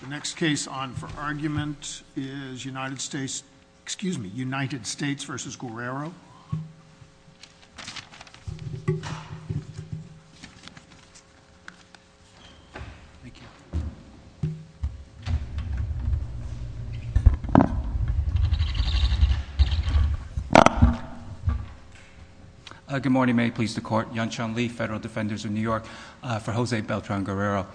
The next case on for argument is United States, excuse me, United States v. Guerrero. Good morning, may it please the court. Yan-Chan Lee, Federal Defenders of New York for Jose Beltran-Guerrero.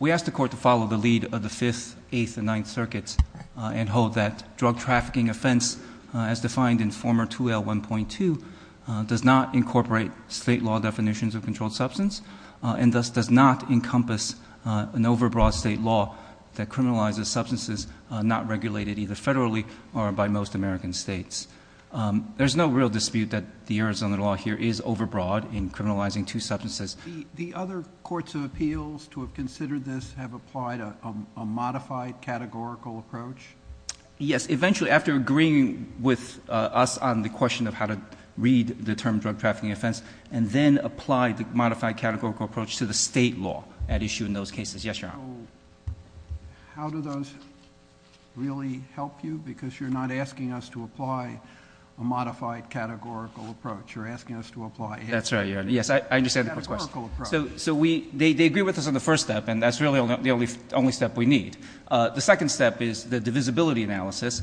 We asked the court to follow the lead of the 5th, 8th, and 9th circuits and hold that drug trafficking offense as defined in former 2L1.2 does not incorporate state law definitions of controlled substance and thus does not encompass an overbroad state law that criminalizes substances not regulated either federally or by most American states. There's no real dispute that the Arizona law here is overbroad in The other courts of appeals to have considered this have applied a modified categorical approach? Yes, eventually after agreeing with us on the question of how to read the term drug trafficking offense and then apply the modified categorical approach to the state law at issue in those cases. Yes, Your Honor. How do those really help you because you're not asking us to apply a modified categorical approach, you're asking us to apply... That's right, yes, I understand the court's question. So we, they agree with us on the first step and that's really the only step we need. The second step is the divisibility analysis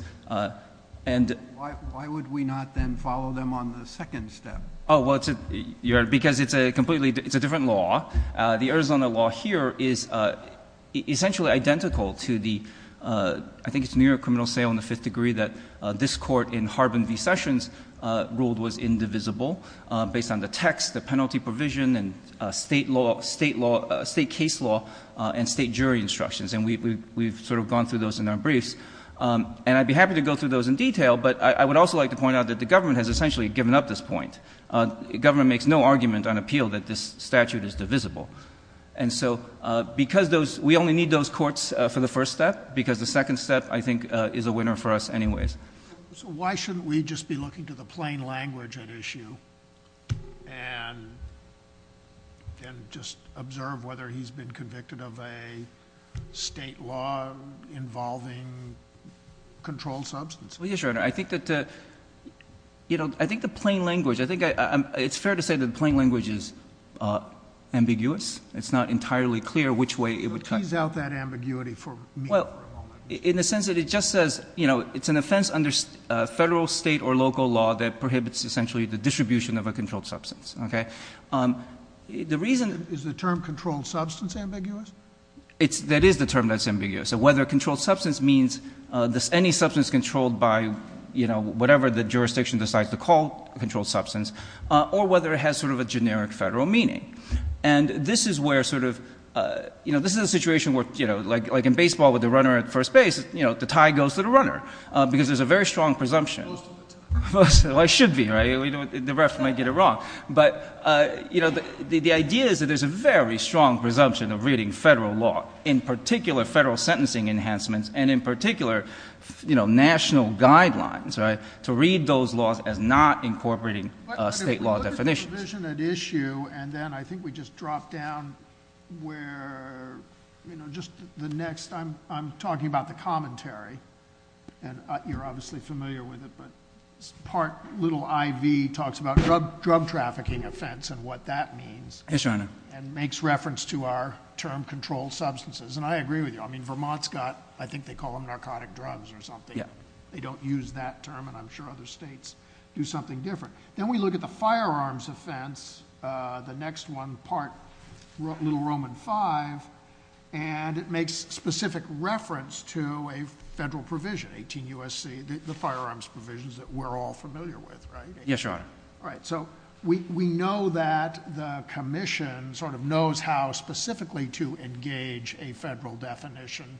and... Why would we not then follow them on the second step? Oh, well it's a, Your Honor, because it's a completely, it's a different law. The Arizona law here is essentially identical to the, I think it's New York criminal sale in the fifth degree that this court in Harbin v. Sessions ruled was indivisible based on the text, the state law, state law, state case law, and state jury instructions. And we've sort of gone through those in our briefs. And I'd be happy to go through those in detail, but I would also like to point out that the government has essentially given up this point. Government makes no argument on appeal that this statute is divisible. And so because those, we only need those courts for the first step because the second step, I think, is a winner for us anyways. So why shouldn't we just be looking to the plain language at issue and just observe whether he's been convicted of a state law involving controlled substance? Well, yes, Your Honor, I think that, you know, I think the plain language, I think it's fair to say that the plain language is ambiguous. It's not entirely clear which way it would cut. Tease out that ambiguity for me for a moment. Well, in the sense that it just says, you know, it's an offense under federal, state, or local law that prohibits essentially the distribution of a controlled substance. Okay? The reason Is the term controlled substance ambiguous? That is the term that's ambiguous. So whether controlled substance means any substance controlled by, you know, whatever the jurisdiction decides to call controlled substance or whether it has sort of a generic federal meaning. And this is where sort of, you know, this is a situation where, you know, like in baseball with the tie goes to the runner. Because there's a very strong presumption. Well, it should be, right? The ref might get it wrong. But, you know, the idea is that there's a very strong presumption of reading federal law, in particular federal sentencing enhancements, and in particular, you know, national guidelines, right? To read those laws as not incorporating state law definitions. But if we look at the provision at issue, and then I think we just drop down where, you know, just the next, I'm talking about the commentary, and you're obviously familiar with it, but part little IV talks about drug trafficking offense and what that means, and makes reference to our term controlled substances. And I agree with you. I mean, Vermont's got, I think they call them narcotic drugs or something. They don't use that term, and I'm sure other states do something different. Then we look at the firearms offense, the next one, part Little Roman 5, and it makes specific reference to a federal provision, 18 U.S.C., the firearms provisions that we're all familiar with, right? Yes, Your Honor. All right, so we know that the Commission sort of knows how specifically to engage a federal definition,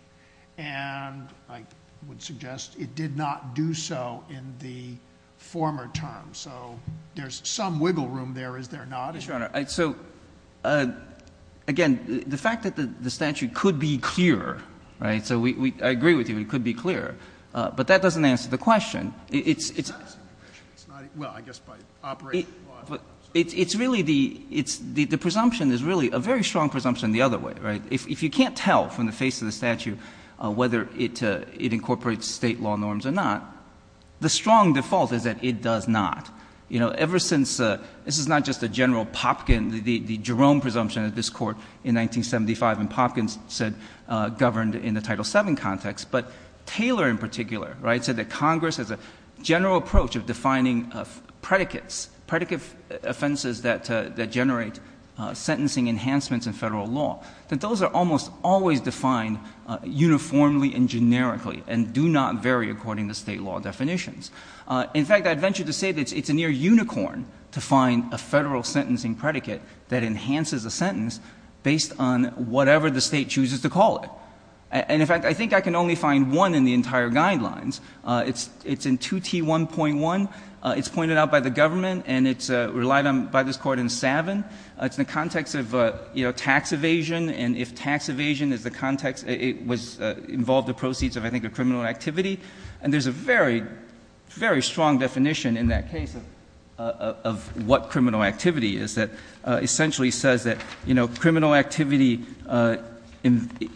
and I would suggest it did not do so in the former term. So there's some wiggle room there, is there not? Yes, Your Honor. So again, the fact that the statute could be clearer, right? So we, I agree with you, it could be clearer. But that doesn't answer the question. It's really the presumption is really a very strong presumption the other way, right? If you can't tell from the face of the statute whether it incorporates state law norms or not, the strong default is that it does not. You know, ever since, this is not just a general Popkin, the Jerome presumption that this Court in 1975 in Popkin said governed in the Title VII context, but Taylor in particular, right, said that Congress has a general approach of defining predicates, predicate offenses that generate sentencing enhancements in federal law, that those are almost always defined uniformly and generically and do not vary according to state law definitions. In fact, I'd venture to say that it's a near unicorn to find a federal sentencing predicate that enhances a sentence based on whatever the State chooses to call it. And in fact, I think I can only find one in the entire guidelines. It's in 2T1.1. It's pointed out by the government and it's relied on by this Court in Savin. It's in the context of, you know, tax evasion, and if tax evasion is the context, it was involved in proceeds of, I think, a criminal activity. And there's a very, very strong definition in that case of what criminal activity is that essentially says that, you know, criminal activity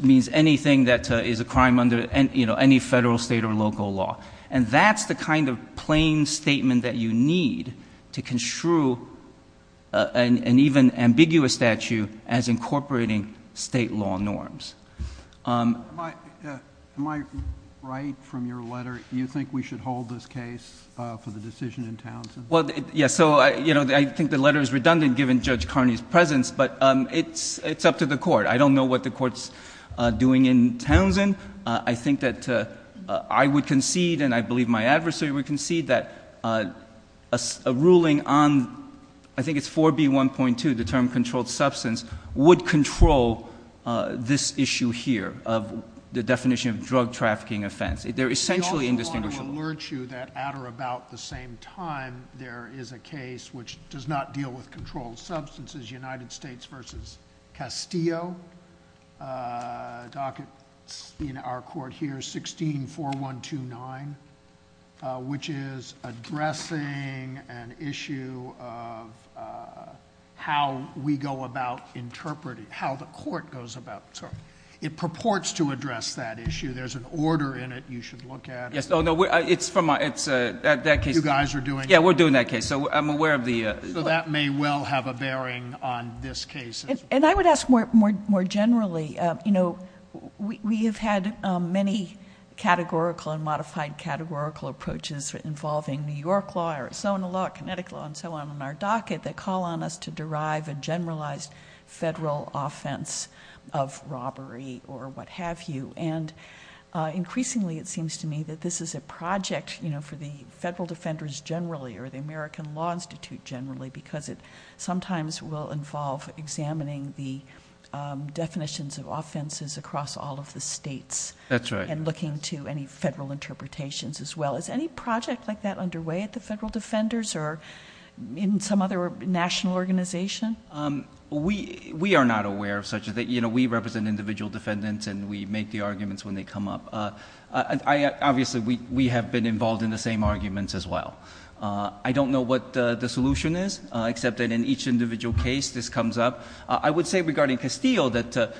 means anything that is a crime under, you know, any federal, state, or local law. And that's the kind of plain statement that you need to construe an even ambiguous statute as incorporating state law norms. Am I right from your letter? You think we should hold this case for the decision in Townsend? Well, yes. So, you know, I think the letter is redundant given Judge Carney's presence, but it's up to the Court. I don't know what the Court's doing in Townsend. I think that I would concede and I believe my adversary would concede that a ruling on, I think it's 4B1.2, the term controlled substance, would control this issue here of the definition of drug trafficking offense. They're essentially indistinguishable. We also want to alert you that at or about the same time there is a case which does not deal with controlled substances, United States v. Castillo, docket in our Court here, 164129, which is addressing an issue of how we go about interpreting, how the Court goes about interpreting. It purports to address that issue. There's an order in it you should look at. Yes. Oh, no. It's from my, it's that case. You guys are doing it? Yeah, we're doing that case. So I'm aware of the... So that may well have a bearing on this case. And I would ask more generally, you know, we have had many categorical and modified categorical approaches involving New York law, Arizona law, Connecticut law, and so on in our docket that call on us to derive a generalized federal offense of robbery or what have you. And increasingly it seems to me that this is a project, you know, for the federal defenders generally, or the American Law Institute generally, because it sometimes will involve examining the definitions of offenses across all of the states and looking to any federal interpretations as well. Is any project like that underway at the federal defenders or in some other national organization? We are not aware of such a thing. You know, we represent individual defendants and we make the arguments when they come up. Obviously we have been involved in the same arguments as well. I don't know what the solution is, except that in each individual case this comes up. I would say regarding Castillo that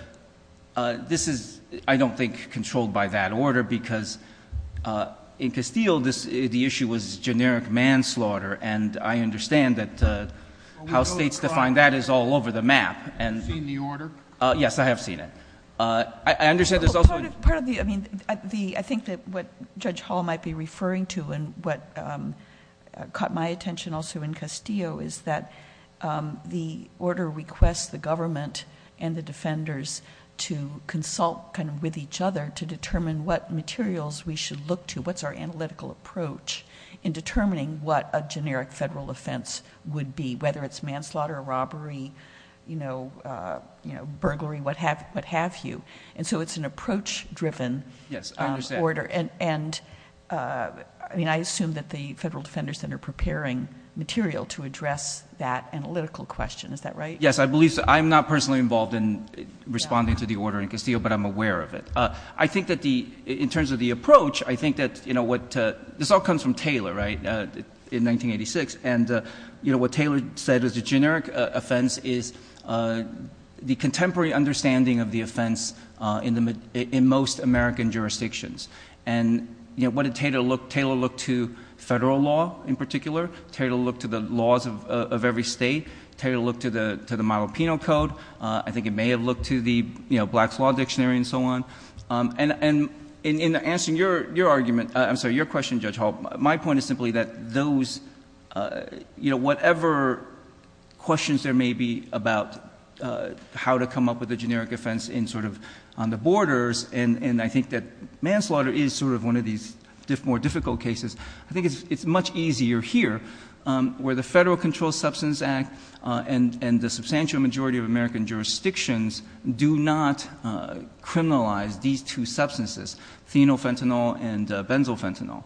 this is, I don't think, controlled by that order, because in Castillo the issue was generic manslaughter and I understand that how states define that is all over the map. Have you seen the order? Yes, I have seen it. I understand there is also... Part of the, I mean, I think that what Judge Hall might be referring to and what caught my attention also in Castillo is that the order requests the government and the defenders to consult with each other to determine what materials we should look to, what's our analytical approach in determining what a generic federal offense would be, whether it's manslaughter, robbery, burglary, what have you. It's an approach driven order. Yes, I understand. I assume that the Federal Defender Center preparing material to address that analytical question, is that right? Yes, I believe so. I'm not personally involved in responding to the order in Castillo, but I'm aware of it. I think that the, in terms of the approach, I think that what, this all comes from Taylor, right, in 1986, and what Taylor said was a generic offense is the contemporary understanding of the offense in most American jurisdictions. And what did Taylor look to? Federal law, in particular. Taylor looked to the laws of every state. Taylor looked to the Milo Pino Code. I think he may have looked to the Black's Law Dictionary and so on. And in answering your argument, I'm sorry, your question, Judge Hall, my point is simply that those, you know, whatever questions there may be about how to come up with a generic offense in sort of on the borders, and I think that manslaughter is sort of one of these more difficult cases. I think it's much easier here, where the Federal Controlled Substance Act and the substantial majority of American jurisdictions do not criminalize these two substances, phenolphenol and benzophenol.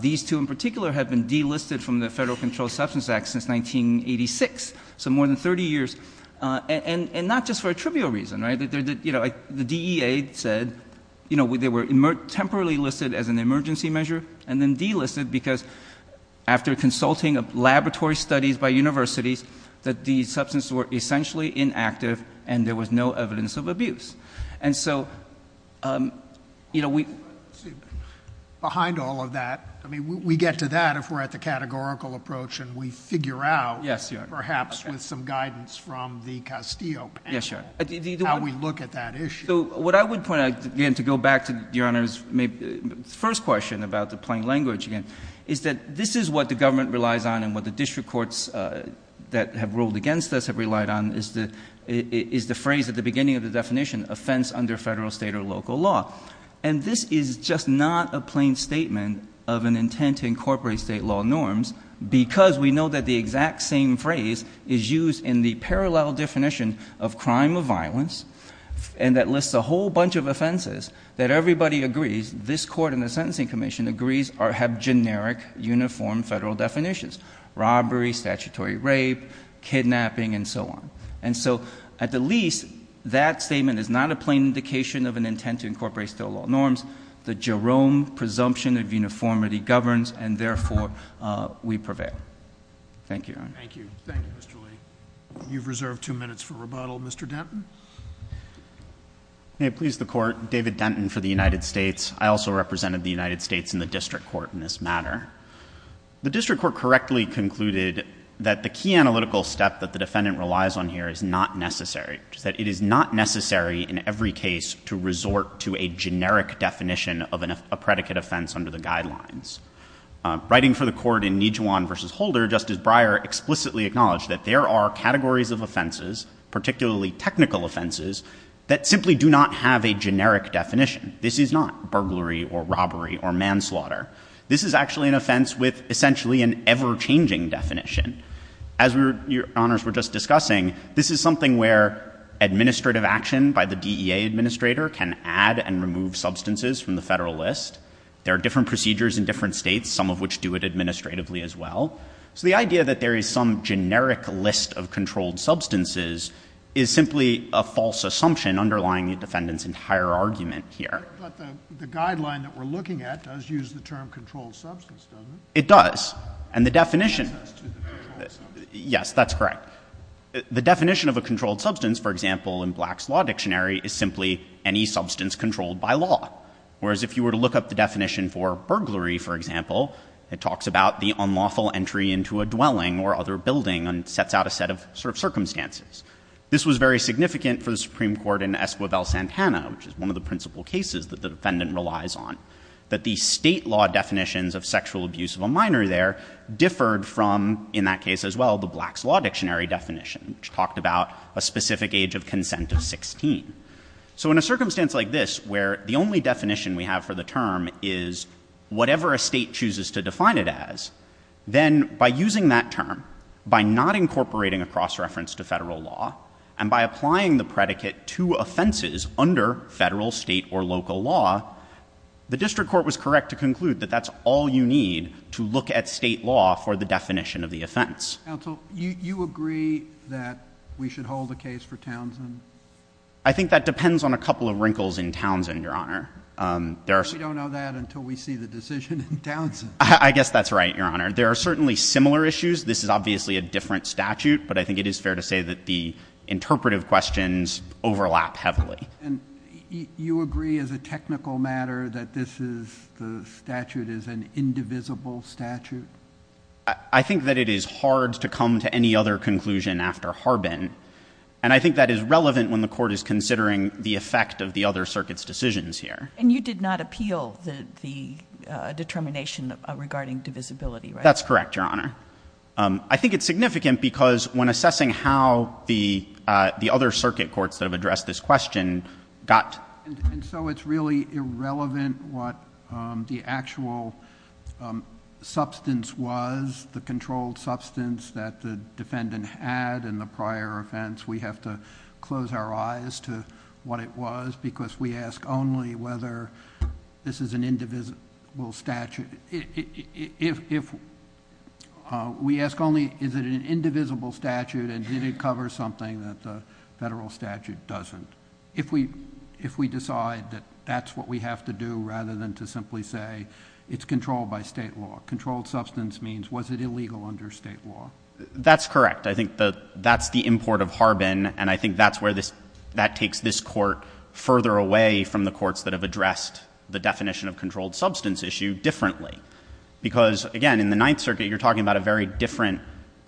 These two in particular have been delisted from the Federal Controlled Substance Act since 1986, so more than 30 years, and not just for a trivial reason, right? The DEA said, you know, they were temporarily listed as an emergency measure and then delisted because after consulting of laboratory studies by universities, that the substances were essentially inactive and there was no evidence of abuse. And so, you know, we... JUSTICE SCALIA. Behind all of that, I mean, we get to that if we're at the categorical approach and we figure out, perhaps with some guidance from the Castillo panel, how we look at that issue. MR. GARRETT. So what I would point out, again, to go back to Your Honor's first question about the plain language again, is that this is what the government relies on and what district courts that have ruled against us have relied on is the phrase at the beginning of the definition, offense under federal, state, or local law. And this is just not a plain statement of an intent to incorporate state law norms because we know that the exact same phrase is used in the parallel definition of crime of violence and that lists a whole bunch of offenses that everybody agrees, this Court and the Sentencing Commission agrees have generic, uniform federal definitions. Robbery, statutory rape, kidnapping, and so on. And so, at the least, that statement is not a plain indication of an intent to incorporate state law norms. The Jerome presumption of uniformity governs and, therefore, we prevail. Thank you, Your Honor. THE COURT. Thank you. Thank you, Mr. Lee. You've reserved two minutes for rebuttal. Mr. Denton. MR. DENTON. May it please the Court, David Denton for the United States. I also represented the United States in the district court in this matter. The district court correctly concluded that the key analytical step that the defendant relies on here is not necessary, that it is not necessary in every case to resort to a generic definition of a predicate offense under the guidelines. Writing for the Court in Nijuan v. Holder, Justice Breyer explicitly acknowledged that there are categories of This is not burglary or robbery or manslaughter. This is actually an offense with essentially an ever-changing definition. As Your Honors were just discussing, this is something where administrative action by the DEA administrator can add and remove substances from the federal list. There are different procedures in different states, some of which do it administratively as well. So the idea that there is some generic list of controlled substances is simply a The guideline that we're looking at does use the term controlled substance, doesn't it? MR. DENTON. It does. And the definition of a controlled substance, for example, in Black's Law Dictionary, is simply any substance controlled by law. Whereas if you were to look up the definition for burglary, for example, it talks about the unlawful entry into a dwelling or other building and sets out a set of circumstances. This was very significant for the Supreme Court, which the defendant relies on, that the state law definitions of sexual abuse of a minor there differed from, in that case as well, the Black's Law Dictionary definition, which talked about a specific age of consent of 16. So in a circumstance like this, where the only definition we have for the term is whatever a state chooses to define it as, then by using that term, by not incorporating a cross-reference to federal law, and by applying the predicate to offenses under federal, state, or local law, the district court was correct to conclude that that's all you need to look at state law for the definition JUSTICE SCALIA. Counsel, you agree that we should hold a case for Townsend? MR. DENTON. I think that depends on a couple of wrinkles in Townsend, Your Honor. JUSTICE SCALIA. We don't know that until we see the decision in Townsend. MR. DENTON. I guess that's right, Your Honor. There are certainly similar issues. This is heavily. JUSTICE SCALIA. And you agree, as a technical matter, that this is, the statute is an indivisible statute? MR. DENTON. I think that it is hard to come to any other conclusion after Harbin. And I think that is relevant when the Court is considering the effect of the other circuit's decisions here. JUSTICE SCALIA. And you did not appeal the determination regarding divisibility, right? MR. DENTON. That's correct, Your Honor. I think it's significant because when assessing how the other circuit courts that have addressed this question got to the conclusion JUSTICE SCALIA. And so it's really irrelevant what the actual substance was, the controlled substance that the defendant had in the prior offense. We have to close our eyes to what it was because we ask only whether this is an indivisible statute. If we ask only is it an indivisible statute and did it cover something that the federal statute doesn't, if we decide that that's what we have to do rather than to simply say it's controlled by state law. Controlled substance means was it illegal under state law? MR. DENTON. That's correct. I think that's the import of Harbin. And I think that's where this, that takes this Court further away from the courts that have addressed the definition of controlled substance issue differently. Because, again, in the Ninth Circuit you're talking about a very different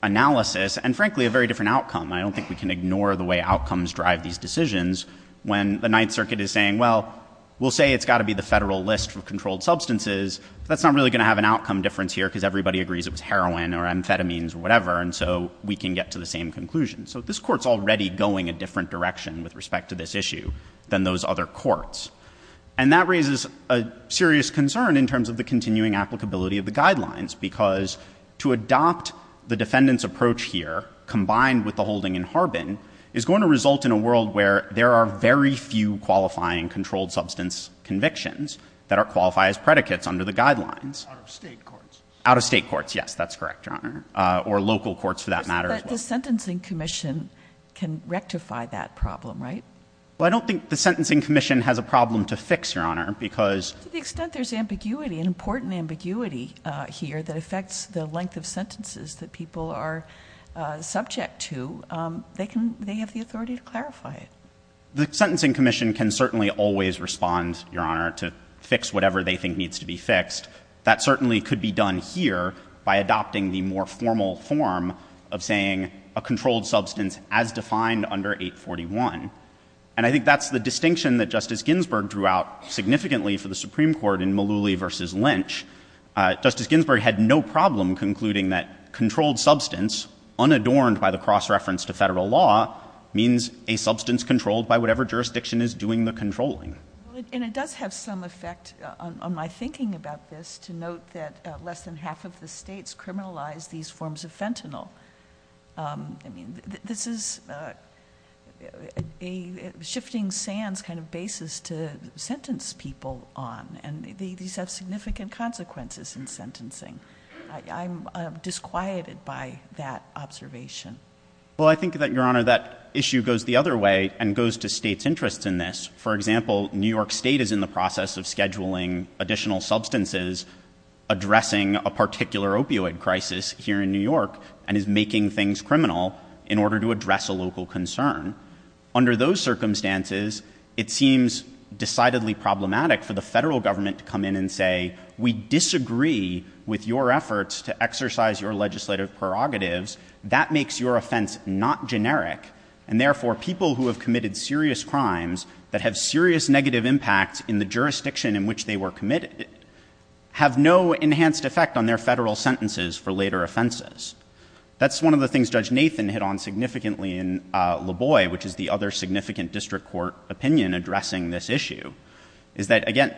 analysis and, frankly, a very different outcome. I don't think we can ignore the way outcomes drive these decisions when the Ninth Circuit is saying, well, we'll say it's got to be the federal list for controlled substances. That's not really going to have an outcome difference here because everybody agrees it was heroin or amphetamines or whatever. And so we can get to the same conclusion. So this Court's already going a different direction with respect to this issue than those other courts. And that raises a serious concern in terms of the continuing applicability of the guidelines because to adopt the defendant's approach here, combined with the holding in Harbin, is going to result in a world where there are very few qualifying controlled substance convictions that are qualified as predicates under the guidelines. OUT OF STATE COURTS. OUT OF STATE COURTS. Yes, that's correct, Your Honor. Or local courts for that matter as well. But the Sentencing Commission can rectify that problem, right? Well, I don't think the Sentencing Commission has a problem to fix, Your Honor, because to the extent there's ambiguity, an important ambiguity here that affects the length of sentences that people are subject to, they have the authority to clarify it. The Sentencing Commission can certainly always respond, Your Honor, to fix whatever they think needs to be fixed. That certainly could be done here by adopting the more formal form of saying a controlled substance as defined under 841. And I think that's the distinction that Justice Ginsburg drew out significantly for the Supreme Court in Mullooly v. Lynch. Justice Ginsburg had no problem concluding that controlled substance, unadorned by the cross-reference to federal law, means a substance controlled by whatever jurisdiction is doing the controlling. And it does have some effect on my thinking about this to note that less than half of the states criminalize these forms of fentanyl. I mean, this is a shifting sands kind of basis to sentence people on. And these have significant consequences in sentencing. I'm disquieted by that observation. Well, I think that, Your Honor, that issue goes the other way and goes to states' interests in this. For example, New York State is in the process of scheduling additional substances addressing a particular opioid crisis here in New York and is making things criminal in order to address a local concern. Under those circumstances, it seems decidedly problematic for the federal government to come in and say, we disagree with your efforts to exercise your legislative prerogatives. That makes your offense not generic. And therefore, people who have committed serious crimes that have serious negative impacts in the jurisdiction in which they were committed have no enhanced effect on their federal sentences for later offenses. That's one of the things Judge Nathan hit on significantly in LaBois, which is the other significant district court opinion addressing this issue, is that, again,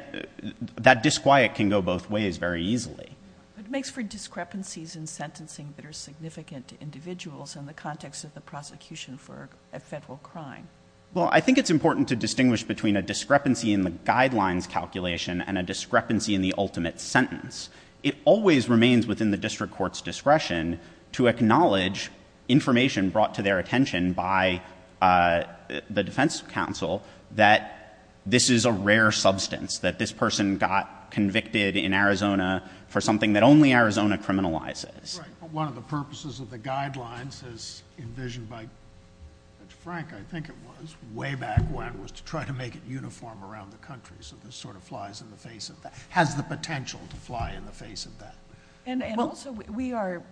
that disquiet can go both ways very easily. But it makes for discrepancies in sentencing that are significant to individuals in the context of the prosecution for a federal crime. Well, I think it's important to distinguish between a discrepancy in the guidelines calculation and a discrepancy in the ultimate sentence. It always remains within the district court's discretion to acknowledge information brought to their attention by the defense counsel that this is a rare substance, that this person got convicted in Arizona for something that only Arizona criminalizes. Right. But one of the purposes of the guidelines as envisioned by Judge Frank, I think it was, way back when, was to try to make it uniform around the country. So this sort of flies in the face of that, has the potential to fly in the face of that. And also, we are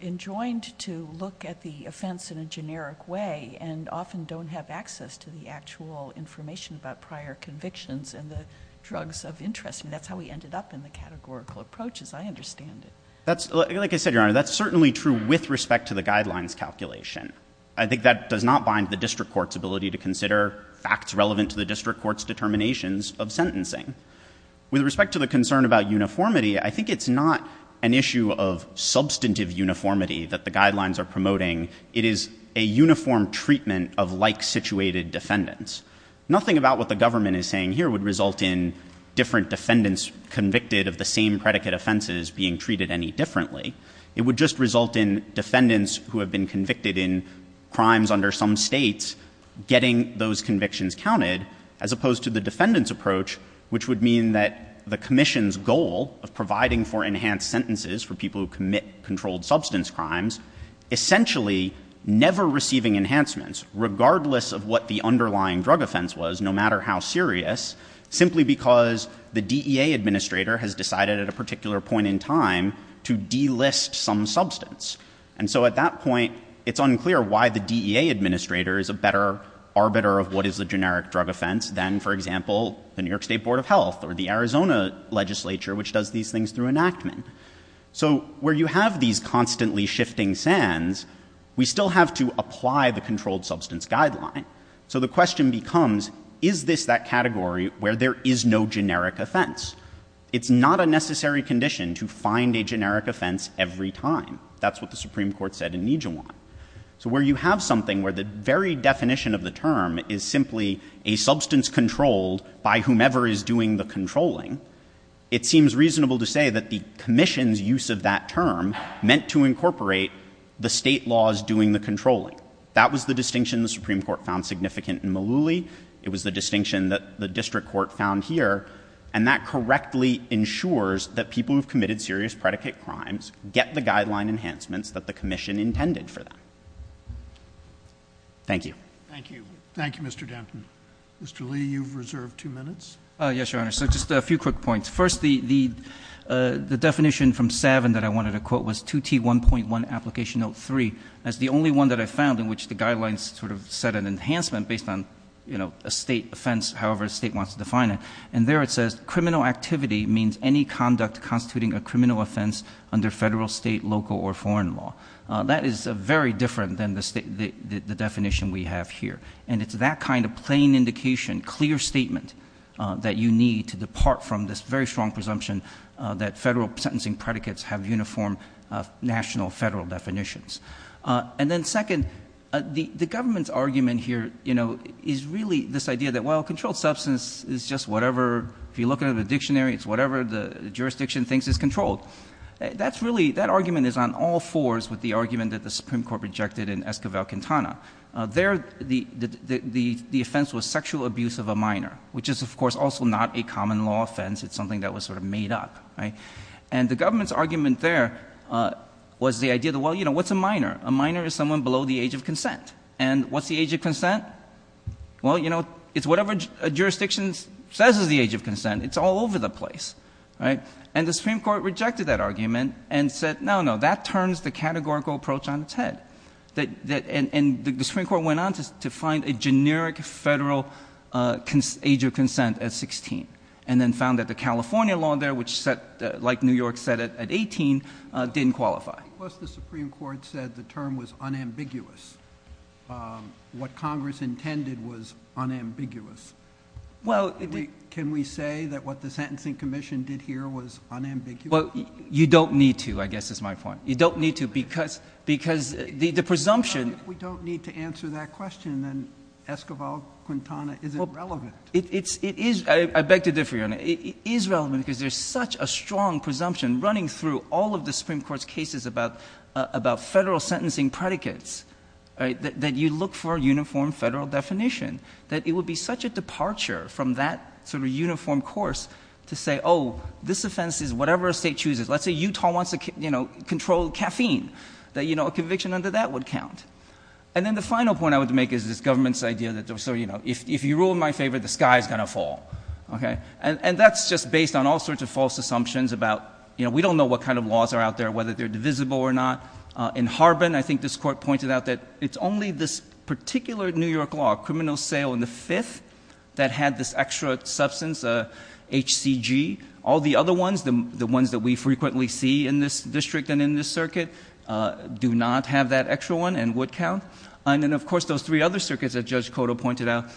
enjoined to look at the offense in a generic way and often don't have access to the actual information about prior convictions and the drugs of interest. That's how we ended up in the categorical approach, as I understand it. That's, like I said, Your Honor, that's certainly true with respect to the guidelines calculation. I think that does not bind the district court's ability to consider facts relevant to the district court's determinations of sentencing. With respect to the concern about uniformity, I think it's not an issue of substantive uniformity that the guidelines are promoting. It is a uniform treatment of like-situated defendants. Nothing about what the government is saying here would result in different defendants convicted of the same predicate offenses being treated any differently. It would just result in defendants who have been convicted in crimes under some states getting those convictions counted, as opposed to the defendant's approach, which would mean that the commission's goal of providing for enhanced sentences for people who commit controlled substance crimes, essentially never receiving enhancements, regardless of what the underlying drug offense was, no matter how serious, simply because the DEA administrator has decided at a particular point in time to delist some substance. And so at that point, it's unclear why the DEA administrator is a better arbiter of what is a generic drug offense than, for example, the New York State Board of Health or the Arizona legislature, which does these things through enactment. So where you have these constantly shifting sands, we still have to apply the controlled substance guideline. So the question becomes, is this that category where there is no generic offense? It's not a necessary condition to find a generic offense every time. That's what the Supreme Court said in Nijewan. So where you have something where the very definition of the term is simply a substance controlled by whomever is doing the controlling, it seems reasonable to say that the commission's use of that term meant to incorporate the state laws doing the controlling. That was the distinction the Supreme Court found significant in Malooly. It was the distinction that the district court found here. And that correctly ensures that people who have committed serious predicate crimes get the guideline enhancements that the commission intended for them. Thank you. Thank you. Thank you, Mr. Danton. Mr. Lee, you've reserved two minutes. Yes, Your Honor. So just a few quick points. First, the definition from Savin that I wanted to quote was 2T1.1 Application Note 3. That's the only one that I found in which the guidelines sort of set an enhancement based on a state offense, however a state wants to define it. And there it says criminal activity means any conduct constituting a criminal offense under federal, state, local, or foreign law. That is very different than the definition we have here. And it's that kind of plain indication, clear statement that you need to depart from this very strong presumption that federal sentencing predicates have uniform national federal definitions. And then second, the government's argument here, you know, is really this idea that while it's whatever, if you look at the dictionary, it's whatever the jurisdiction thinks is controlled. That's really, that argument is on all fours with the argument that the Supreme Court rejected in Esquivel-Quintana. There, the offense was sexual abuse of a minor, which is of course also not a common law offense. It's something that was sort of made up, right? And the government's argument there was the idea that, well, you know, what's a minor? A minor is someone below the age of consent. And what's the age of consent? Well, you know, it's whatever a jurisdiction says is the age of consent. It's all over the place, right? And the Supreme Court rejected that argument and said, no, no, that turns the categorical approach on its head. And the Supreme Court went on to find a generic federal age of consent at 16, and then found that the California law there, which set, like New York said it at 18, didn't qualify. Plus the Supreme Court said the term was unambiguous. What Congress intended was unambiguous. Well, can we say that what the Sentencing Commission did here was unambiguous? Well, you don't need to, I guess is my point. You don't need to because the presumption Why don't we don't need to answer that question? Then Esquivel-Quintana isn't relevant. It is. I beg to differ, Your Honor. It is relevant because there's such a strong presumption running through all of the Supreme Court's cases about federal sentencing predicates, that you look for a uniform federal definition, that it would be such a departure from that sort of uniform course to say, oh, this offense is whatever a state chooses. Let's say Utah wants to control caffeine, that a conviction under that would count. And then the final point I would make is this government's idea that if you rule in my favor, the sky is going to fall. And that's just based on all sorts of false assumptions about we don't know what kind of laws are out there, whether they're divisible or not. In Harbin, I think this Court pointed out that it's only this particular New York law, Criminal Sale in the Fifth, that had this extra substance, HCG. All the other ones, the ones that we frequently see in this district and in this circuit, do not have that extra one and would count. And then, of course, those three other circuits that Judge Cotto pointed out,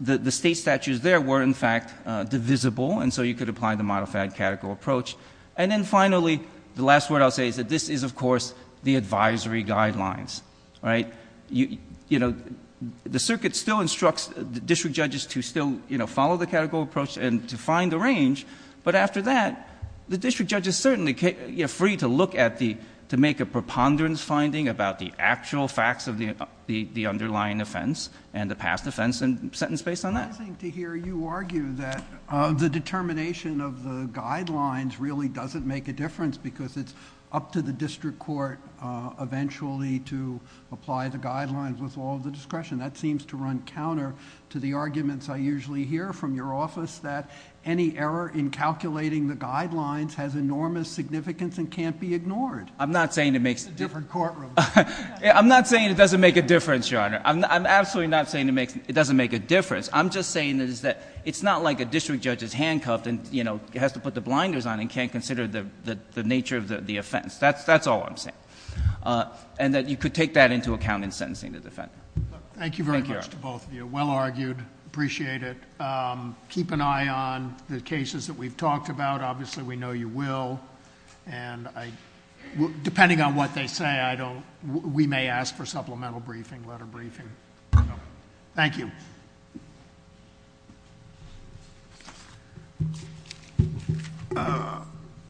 the state statutes there were, in fact, divisible, and so you could apply the model fad categorical approach. And then, finally, the last word I'll say is that this is, of course, the advisory guidelines, right? You know, the circuit still instructs the district judges to still, you know, follow the categorical approach and to find the range, but after that, the district judges certainly are free to look at the, to make a preponderance finding about the actual facts of the underlying offense and the past offense and sentence based on that. It's surprising to hear you argue that the determination of the guidelines really doesn't make a difference because it's up to the district court eventually to apply the guidelines with all of the discretion. That seems to run counter to the arguments I usually hear from your office that any error in calculating the guidelines has enormous significance and can't be ignored. I'm not saying it makes a difference. It's a different courtroom. I'm not saying it doesn't make a difference, Your Honor. I'm absolutely not saying it doesn't make a difference. I'm just saying that it's not like a district judge is handcuffed and, you know, has to put the blinders on and can't consider the nature of the offense. That's all I'm saying. And that you could take that into account in sentencing the defendant. Thank you, Your Honor. Thank you very much to both of you. Well argued. Appreciate it. Keep an eye on the cases that we've talked about. Obviously, we know you will. And depending on what they say, I don't, we may ask for supplemental briefing, letter briefing. Thank you.